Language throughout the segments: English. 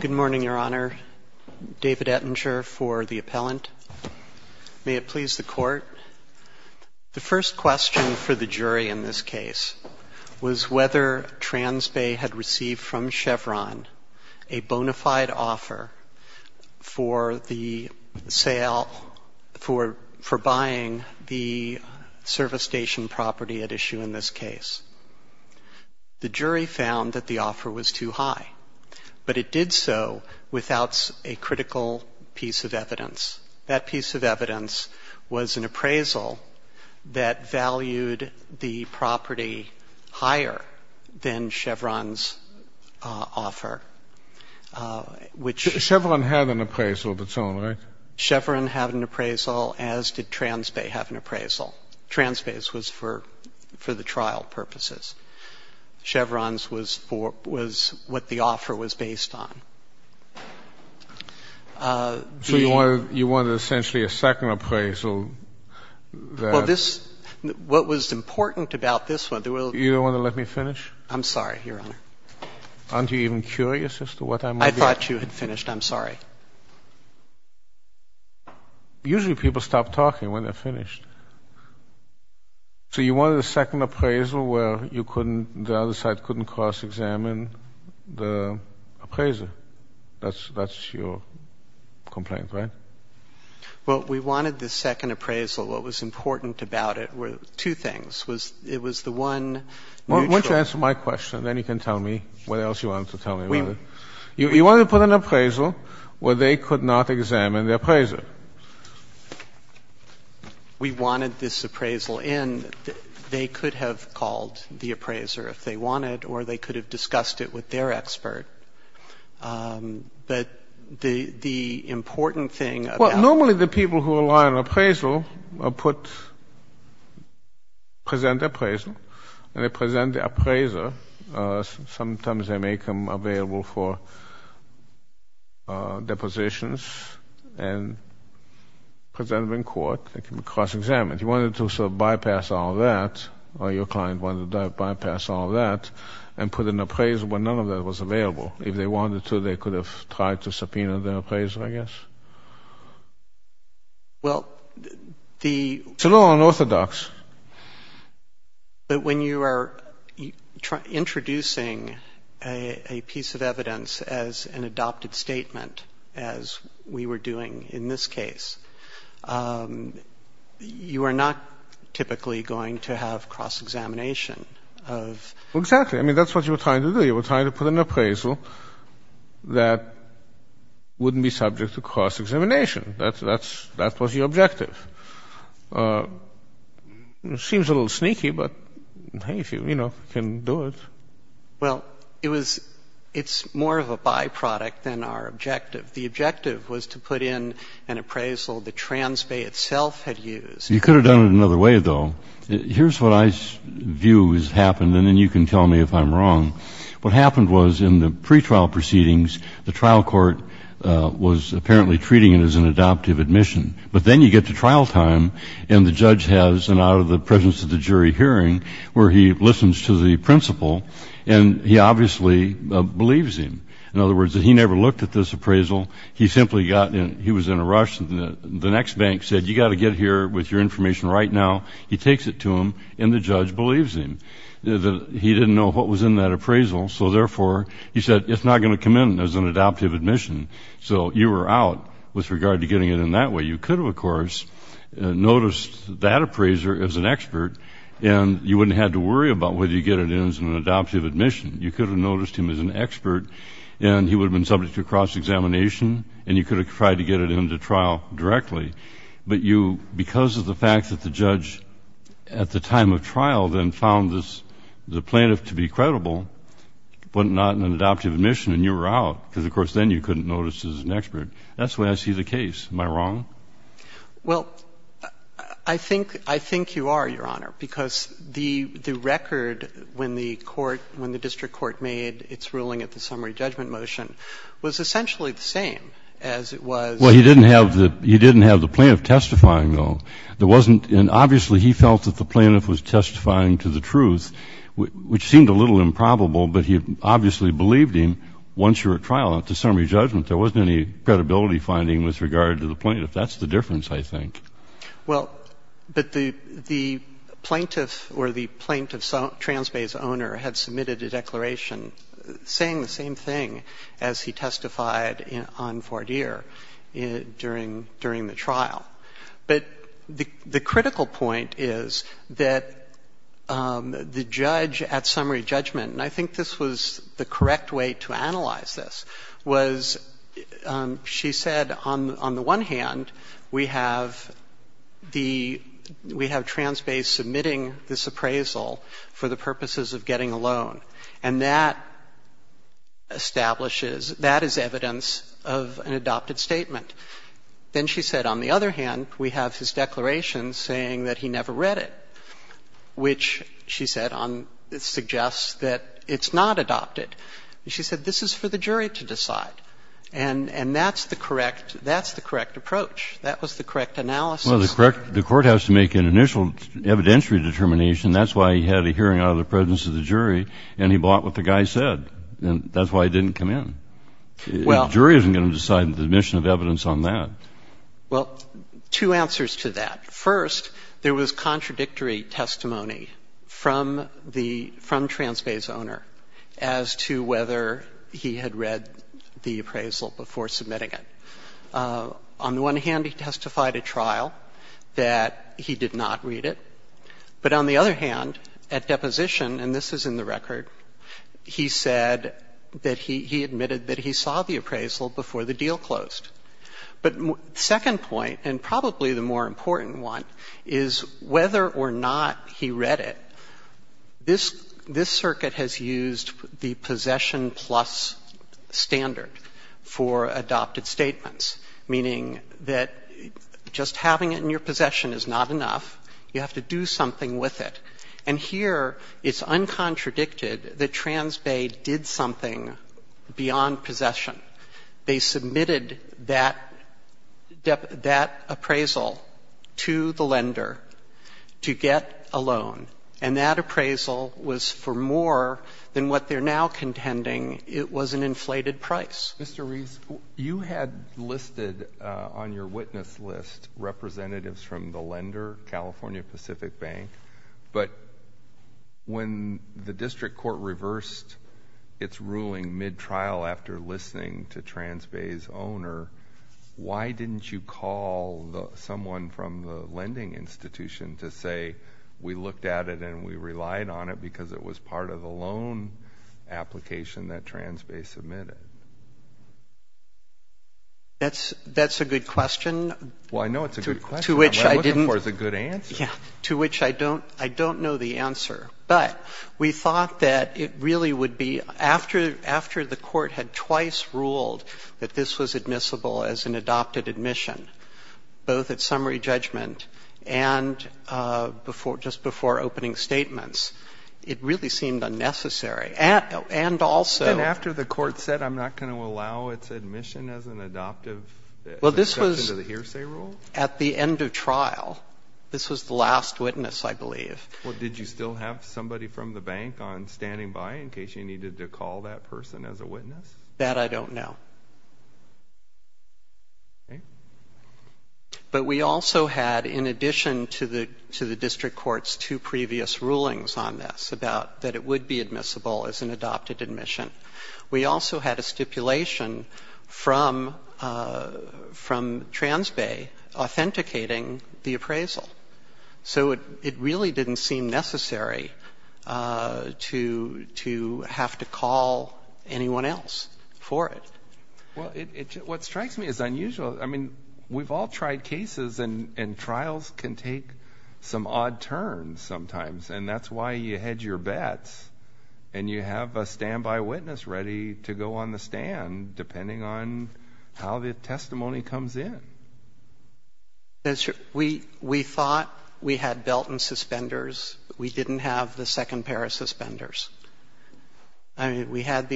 Good morning, Your Honor. David Ettinger for the appellant. May it please the Court. The first question for the jury in this case was whether Transbay had received from Chevron a bona fide offer for buying the service station property at issue in this case. The jury found that the offer was too high, but it did so without a critical piece of evidence. That piece of evidence was an appraisal that valued the property higher than Chevron's offer, which Chevron had an appraisal of its own, right? Chevron had an appraisal as did Transbay have an appraisal. Transbay's was for the trial purposes. Chevron's was for what the offer was based on. So you wanted essentially a second appraisal that Well, this, what was important about this one You don't want to let me finish? I'm sorry, Your Honor. Aren't you even curious as to what I might be I thought you had finished. I'm sorry. Usually people stop talking when they're finished. So you wanted a second appraisal where you couldn't, the other side couldn't cross-examine the appraiser. That's your complaint, right? Well, we wanted the second appraisal. What was important about it were two things. It was the one Why don't you answer my question. Then you can tell me what else you wanted to tell me. You wanted to put an appraisal where they could not examine the appraiser. We wanted this appraisal in. They could have called the appraiser if they wanted, or they could have discussed it with their expert. But the important thing about Well, normally the people who rely on appraisal are put, present appraisal, and they present the appraiser. Sometimes they make them available for depositions and present them in court. They can be cross-examined. You wanted to sort of bypass all that, or your client wanted to bypass all that, and put an appraisal where none of that was available. If they wanted to, they could have tried to subpoena the appraiser, I guess. Well, the It's a little unorthodox. But when you are introducing a piece of evidence as an adopted statement, as we were doing in this case, you are not typically going to have cross-examination of Well, exactly. I mean, that's what you were trying to do. You were trying to put an appraisal that wouldn't be subject to cross-examination. That was your objective. It seems a little sneaky, but, hey, if you, you know, can do it. Well, it was — it's more of a byproduct than our objective. The objective was to put in an appraisal that Transbay itself had used. You could have done it another way, though. Here's what I view has happened, and then you can tell me if I'm wrong. What happened was, in the pretrial proceedings, the trial court was apparently treating it as an adoptive admission. But then you get to trial time, and the judge has an out-of-the-presence-of-the-jury hearing where he listens to the principal, and he obviously believes him. In other words, he never looked at this appraisal. He simply got in — he was in a rush, and the next bank said, you've got to get here with your He didn't know what was in that appraisal, so, therefore, he said, it's not going to come in as an adoptive admission. So you were out with regard to getting it in that way. You could have, of course, noticed that appraiser as an expert, and you wouldn't have to worry about whether you get it in as an adoptive admission. You could have noticed him as an expert, and he would have been subject to cross-examination, and you could have tried to get it into trial directly. But you, because of the fact that the judge, at the time of trial, then found this — the plaintiff to be credible, but not in an adoptive admission, and you were out, because, of course, then you couldn't notice as an expert. That's the way I see the case. Am I wrong? Well, I think — I think you are, Your Honor, because the — the record when the court — when the district court made its ruling at the summary judgment motion was essentially the same as it was — Well, he didn't have the — he didn't have the plaintiff testifying, though. There wasn't — and obviously, he felt that the plaintiff was testifying to the truth, which seemed a little improbable, but he obviously believed him once you were at trial. At the summary judgment, there wasn't any credibility finding with regard to the plaintiff. That's the difference, I think. Well, but the — the plaintiff or the plaintiff's — Transbay's owner had submitted a declaration saying the same thing as he testified on Fordeer during — during the trial. But the critical point is that the judge at summary judgment — and I think this was the correct way to analyze this — was she said, on the one hand, we have the — we have Transbay submitting this appraisal for the purposes of getting a loan, and that establishes — that is evidence of an adopted statement. Then she said, on the other hand, we have his declaration saying that he never read it, which, she said, on — suggests that it's not adopted. She said, this is for the jury to decide. And — and that's the correct — that's the correct approach. That was the correct analysis. Well, the court — the court has to make an initial evidentiary determination. That's why he had a hearing out of the presence of the jury, and he bought what the guy said. And that's why he didn't come in. Well — The jury isn't going to decide the admission of evidence on that. Well, two answers to that. First, there was contradictory testimony from the — from Transbay's owner as to whether he had read the appraisal before submitting it. On the one hand, he testified at trial that he did not read it. But on the other hand, at deposition, and this is in the record, he said that he — he admitted that he saw the appraisal before the deal closed. But second point, and probably the more important one, is whether or not he read it. This — this circuit has used the possession plus standard for adopted statements, meaning that just having it in your possession is not enough. You have to do something with it. And here, it's uncontradicted that Transbay did something beyond possession. They submitted that — that appraisal to the lender to get a loan, to get a loan, and that appraisal was for more than what they're now contending. It was an inflated price. Mr. Reese, you had listed on your witness list representatives from the lender, California Pacific Bank, but when the district court reversed its ruling mid-trial after listening to Transbay's owner, why didn't you call someone from the lending institution to say we looked at it and we relied on it because it was part of the loan application that Transbay submitted? That's — that's a good question. Well, I know it's a good question. To which I didn't — What I'm looking for is a good answer. Yeah. To which I don't — I don't know the answer. But we thought that it really would be — after — after the court had twice ruled that this was admissible as an — just before opening statements, it really seemed unnecessary. And also — And after the court said, I'm not going to allow its admission as an adoptive — Well, this was —— exception to the hearsay rule? At the end of trial. This was the last witness, I believe. Well, did you still have somebody from the bank on standing by in case you needed to call that person as a witness? That I don't know. Okay. But we also had, in addition to the — to the district court's two previous rulings on this about — that it would be admissible as an adopted admission, we also had a stipulation from — from Transbay authenticating the appraisal. So it — it really didn't seem necessary to — to have to call anyone else for it. Well, it — what strikes me is unusual. I mean, we've all tried cases, and — and trials can take some odd turns sometimes. And that's why you hedge your bets, and you have a standby witness ready to go on the stand, depending on how the testimony comes in. We — we thought we had Belton suspenders. We didn't have the second pair of suspenders. And we had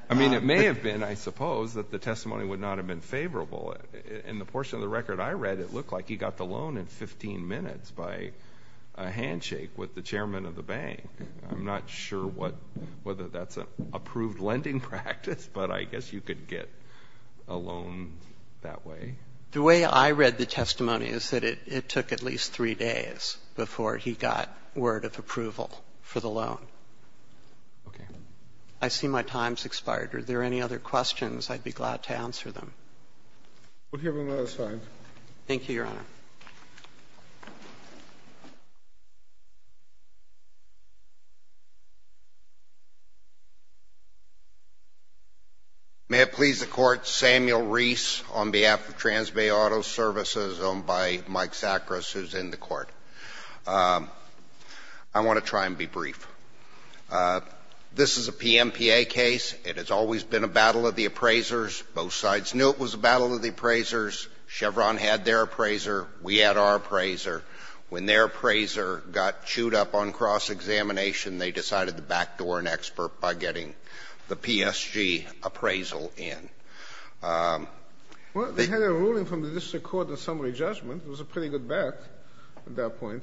— I mean, it may have been, I suppose, that the testimony would not have been favorable. In the portion of the record I read, it looked like he got the loan in 15 minutes by a handshake with the chairman of the bank. I'm not sure what — whether that's an approved lending practice, but I guess you could get a loan that way. The way I read the testimony is that it took at least three days before he got word of approval for the loan. Okay. I see my time's expired. Are there any other questions? I'd be glad to answer them. We'll hear from the other side. Thank you, Your Honor. May it please the Court, Samuel Reese on behalf of Transbay Auto Services, owned by Mike Zachris, who's in the Court. I want to try and be brief. This is a PMPA case. It has always been a battle of the appraisers. Both sides knew it was a battle of the appraisers. Chevron had their appraiser. We had our appraiser. When their appraiser got chewed up on cross-examination, they decided to backdoor an expert by getting the PSG appraisal in. Well, they had a ruling from the district court, a summary judgment. It was a pretty good bet at that point.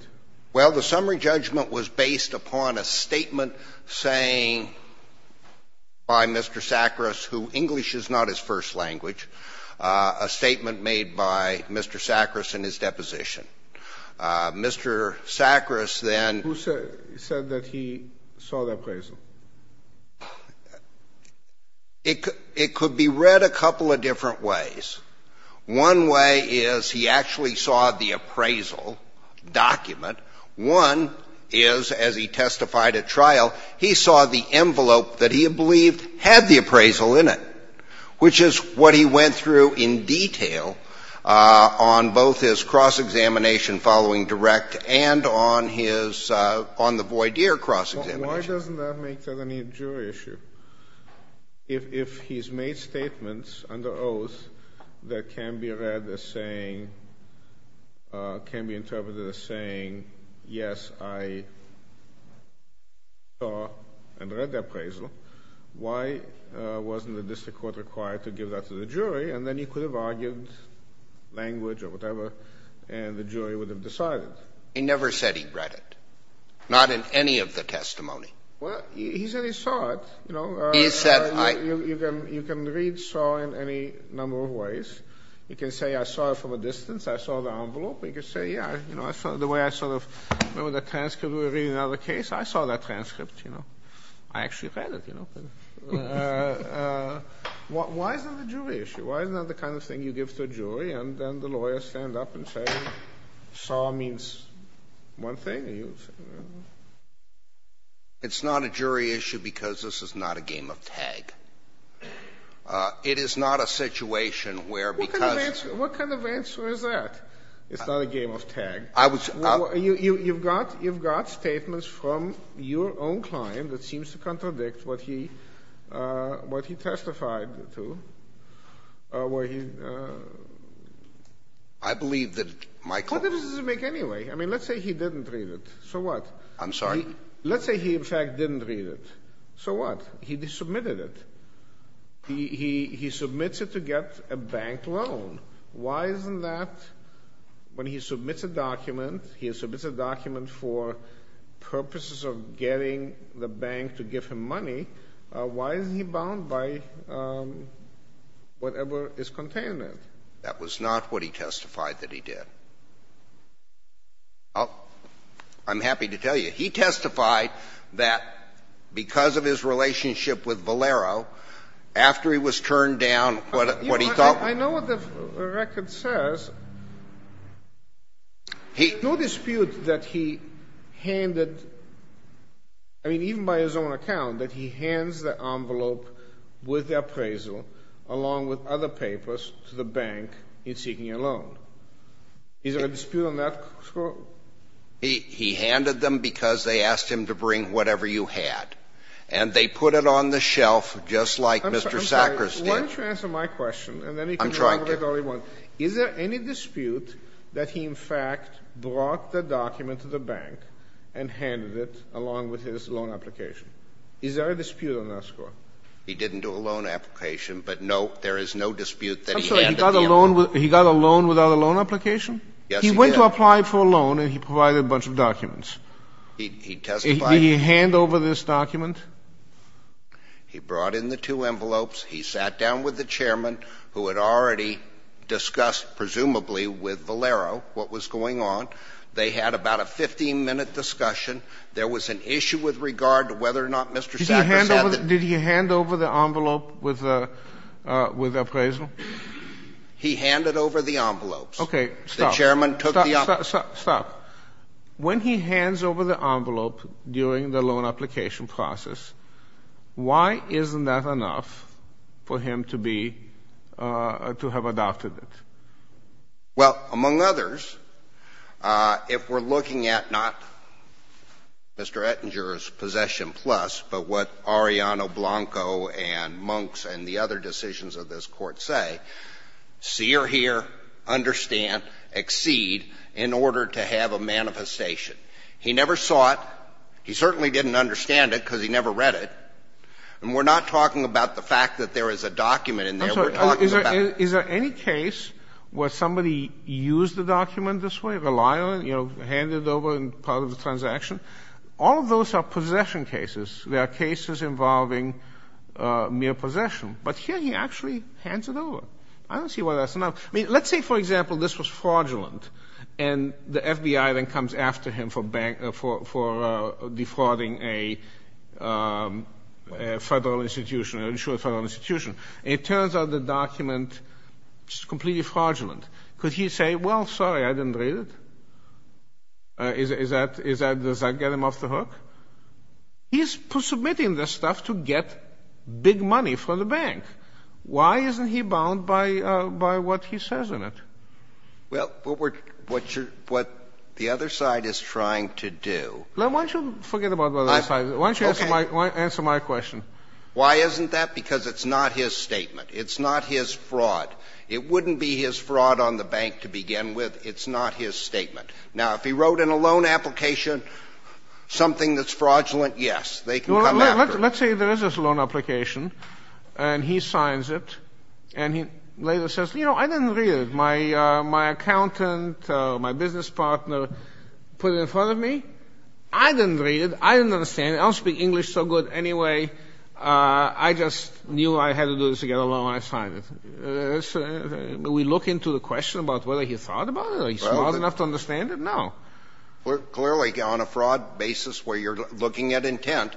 Well, the summary judgment was based upon a statement saying by Mr. Zachris, who English is not his first language, a statement made by Mr. Zachris in his deposition. Mr. Zachris then ---- Who said that he saw the appraisal? It could be read a couple of different ways. One way is he actually saw the appraisal document. One is, as he testified at trial, he saw the envelope that he had believed had the appraisal in it, which is what he went through in detail on both his cross-examination following direct and on his ---- on the voir dire cross-examination. Why doesn't that make that any jury issue? If he's made statements under oath that can be read as saying, can be interpreted as saying, yes, I saw and read the appraisal, why wasn't the district court required to give that to the jury? And then he could have argued language or whatever, and the jury would have decided. He never said he read it, not in any of the testimony. Well, he said he saw it. You know, you can read saw in any number of ways. You can say, I saw it from a distance. I saw the envelope. You can say, yeah, you know, I saw the way I sort of remember the transcript. We were reading another case. I saw that transcript, you know. I actually read it, you know. Why is that a jury issue? Why is that the kind of thing you give to a jury, and then the lawyers stand up and say, saw means one thing, and you say, you know. It's not a jury issue because this is not a game of tag. It is not a situation where because ---- What kind of answer is that? It's not a game of tag. I was ---- You've got statements from your own client that seems to contradict what he testified to, where he ---- I believe that my client ---- What difference does it make anyway? I mean, let's say he didn't read it. So what? I'm sorry? Let's say he, in fact, didn't read it. So what? He submitted it. He submits it to get a bank loan. Why isn't that, when he submits a document, he submits a document for purposes of getting the bank to give him money? Why is he bound by whatever is contained in it? That was not what he testified that he did. I'm happy to tell you, he testified that because of his relationship with Valero, after he was turned down, what he thought ---- I know what the record says. He ---- No dispute that he handed, I mean, even by his own account, that he hands the envelope with the appraisal, along with other papers, to the bank in seeking a loan. Is there a dispute on that? He handed them because they asked him to bring whatever you had. And they put it on the shelf, just like Mr. Sakharov did. Why don't you answer my question, and then he can talk about it all he wants. I'm trying to. Is there any dispute that he, in fact, brought the document to the bank and handed it along with his loan application? Is there a dispute on that score? He didn't do a loan application, but no, there is no dispute that he handed the envelope. He got a loan without a loan application? Yes, he did. He went to apply for a loan, and he provided a bunch of documents. He testified ---- Did he hand over this document? He brought in the two envelopes. He sat down with the chairman, who had already discussed, presumably, with Valero what was going on. They had about a 15-minute discussion. There was an issue with regard to whether or not Mr. Sakharov said that ---- Did he hand over the envelope with the appraisal? He handed over the envelopes. Okay, stop. The chairman took the envelopes. Stop. When he hands over the envelope during the loan application process, why isn't that enough for him to be ---- to have adopted it? Well, among others, if we're looking at not Mr. Ettinger's possession plus, but what Arellano Blanco and Monks and the other decisions of this Court say, see or hear, understand, exceed in order to have a manifestation. He never saw it. He certainly didn't understand it because he never read it. And we're not talking about the fact that there is a document in there. We're talking about ---- Is there any case where somebody used the document this way, rely on it, you know, hand it over in part of the transaction? All of those are possession cases. There are cases involving mere possession. But here he actually hands it over. I don't see why that's enough. I mean, let's say, for example, this was fraudulent, and the FBI then comes after him for defrauding a federal institution, an insured federal institution. It turns out the document is completely fraudulent. Could he say, well, sorry, I didn't read it? Does that get him off the hook? He's submitting this stuff to get big money from the bank. Why isn't he bound by what he says in it? Well, what the other side is trying to do ---- Why don't you forget about the other side? Why don't you answer my question? Why isn't that? Because it's not his statement. It's not his fraud. It wouldn't be his fraud on the bank to begin with. It's not his statement. Now, if he wrote in a loan application something that's fraudulent, yes, they can come after. Let's say there is this loan application, and he signs it, and he later says, you know, I didn't read it. My accountant, my business partner put it in front of me. I didn't read it. I didn't understand it. I don't speak English so good. Anyway, I just knew I had to do this to get a loan. I signed it. We look into the question about whether he thought about it. Are you smart enough to understand it? No. Clearly, on a fraud basis where you're looking at intent,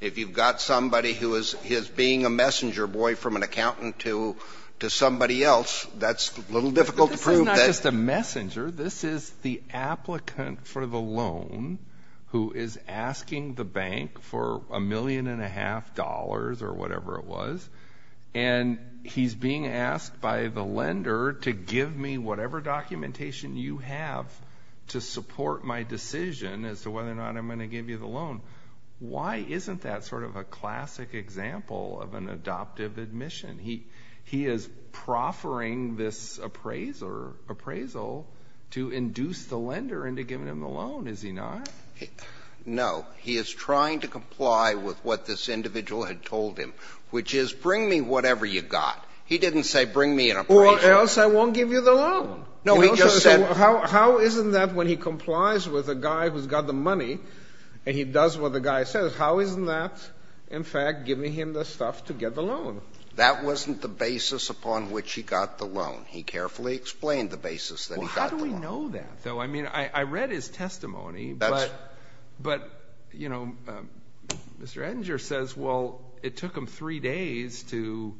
if you've got somebody who is being a messenger boy from an accountant to somebody else, that's a little difficult to prove. This is not just a messenger. This is the applicant for the loan who is asking the bank for a million and a half dollars or whatever it was, and he's being asked by the lender to give me whatever documentation you have to support my decision as to whether or not I'm going to give you the loan. Why isn't that sort of a classic example of an adoptive admission? He is proffering this appraisal to induce the lender into giving him the loan, is he not? No. He is trying to comply with what this individual had told him, which is bring me whatever you got. He didn't say bring me an appraisal. Or else I won't give you the loan. No, he just said- How isn't that when he complies with a guy who's got the money and he does what the guy says, how isn't that, in fact, giving him the stuff to get the loan? That wasn't the basis upon which he got the loan. He carefully explained the basis that he got the loan. How do we know that, though? I mean, I read his testimony, but, you know, Mr. Edinger says, well, it took him three days to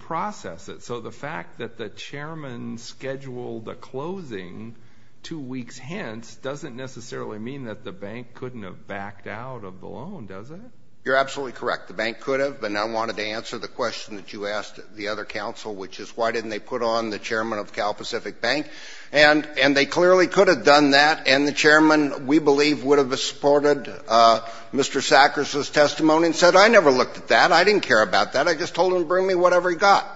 process it. So the fact that the chairman scheduled the closing two weeks hence doesn't necessarily mean that the bank couldn't have backed out of the loan, does it? You're absolutely correct. The bank could have. And I wanted to answer the question that you asked the other counsel, which is why didn't they put on the chairman of Cal Pacific Bank? And they clearly could have done that. And the chairman, we believe, would have supported Mr. Sackers' testimony and said, I never looked at that. I didn't care about that. I just told him to bring me whatever he got.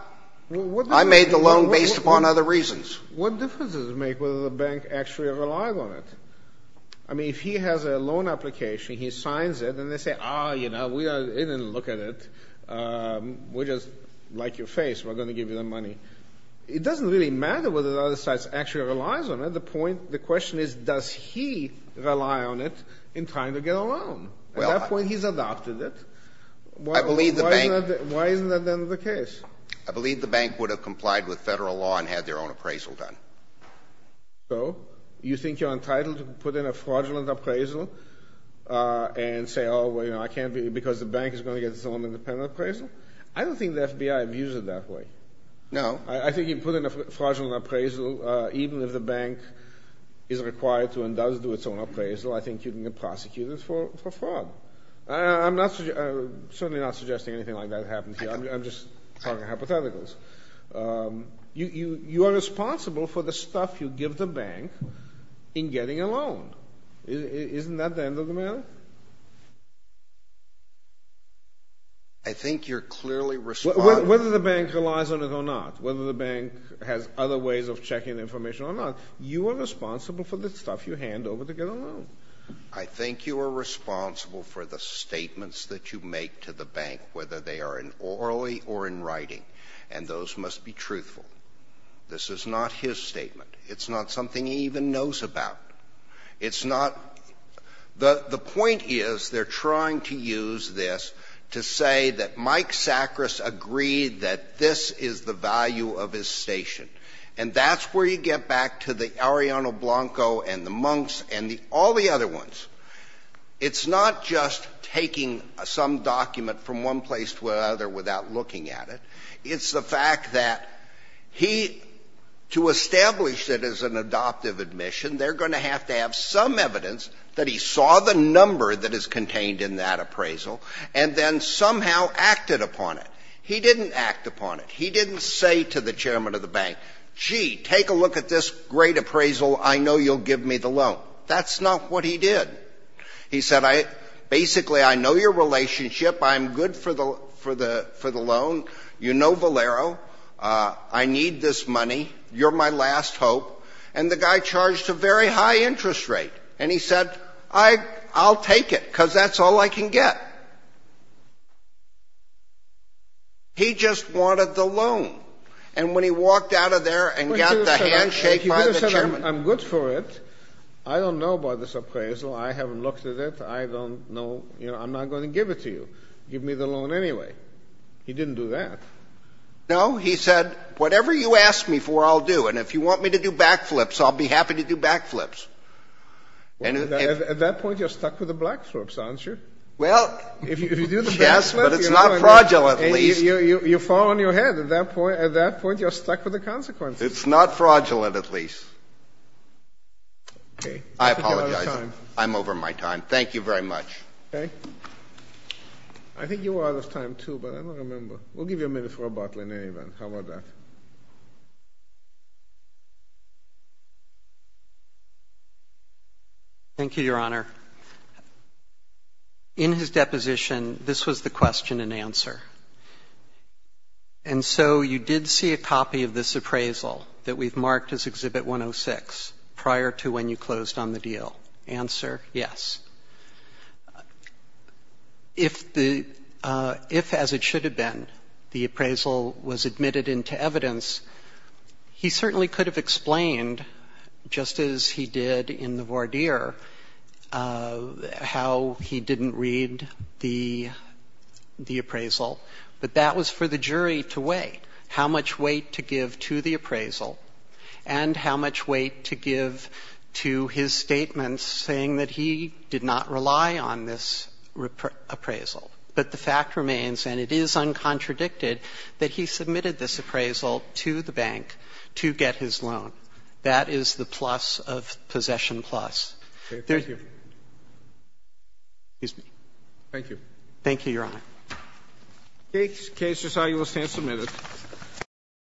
I made the loan based upon other reasons. What difference does it make whether the bank actually relied on it? I mean, if he has a loan application, he signs it, and they say, oh, you know, we didn't look at it. We just like your face. We're going to give you the money. It doesn't really matter whether the other side actually relies on it. The point, the question is, does he rely on it in trying to get a loan? At that point, he's adopted it. Why isn't that then the case? I believe the bank would have complied with federal law and had their own appraisal done. So you think you're entitled to put in a fraudulent appraisal and say, oh, well, you know, I can't because the bank is going to get its own independent appraisal? I don't think the FBI views it that way. No. I think you put in a fraudulent appraisal, even if the bank is required to and does do its own appraisal, I think you can get prosecuted for fraud. I'm certainly not suggesting anything like that happened here. I'm just talking hypotheticals. You are responsible for the stuff you give the bank in getting a loan. Isn't that the end of the matter? I think you're clearly responsible. Whether the bank relies on it or not, whether the bank has other ways of checking information or not, you are responsible for the stuff you hand over to get a loan. I think you are responsible for the statements that you make to the bank, whether they are in orally or in writing, and those must be truthful. This is not his statement. It's not something he even knows about. It's not – the point is they're trying to use this to say that Mike Sackris agreed that this is the value of his station. And that's where you get back to the Arellano Blanco and the Monks and all the other ones. It's not just taking some document from one place to another without looking at it. It's the fact that he – to establish it as an adoptive admission, they're going to have to have some evidence that he saw the number that is contained in that appraisal and then somehow acted upon it. He didn't act upon it. He didn't say to the chairman of the bank, gee, take a look at this great appraisal. I know you'll give me the loan. That's not what he did. He said, basically, I know your relationship. I'm good for the loan. You know Valero. I need this money. You're my last hope. And the guy charged a very high interest rate. And he said, I'll take it, because that's all I can get. He just wanted the loan. And when he walked out of there and got the handshake by the chairman – You could have said, I'm good for it. I don't know about this appraisal. I haven't looked at it. I don't know. I'm not going to give it to you. Give me the loan anyway. He didn't do that. No. He said, whatever you ask me for, I'll do. And if you want me to do backflips, I'll be happy to do backflips. At that point, you're stuck with the backflips, aren't you? Well, yes, but it's not fraudulent, at least. You fall on your head at that point. At that point, you're stuck with the consequences. It's not fraudulent, at least. I apologize. I'm over my time. Thank you very much. I think you were out of time, too, but I don't remember. We'll give you a minute for a bottle in any event. How about that? Thank you, Your Honor. In his deposition, this was the question and answer. And so you did see a copy of this appraisal that we've marked as Exhibit 106 prior to when you closed on the deal. Answer, yes. If, as it should have been, the appraisal was admitted into evidence, he certainly could have explained, just as he did in the voir dire, how he didn't read the appraisal. But that was for the jury to weigh how much weight to give to the appraisal and how much weight to give to his statements saying that he did not rely on this appraisal. But the fact remains, and it is uncontradicted, that he submitted this appraisal to the bank to get his loan. That is the plus of Possession Plus. Thank you. Thank you. Thank you, Your Honor. The case is now in a stand-submitted.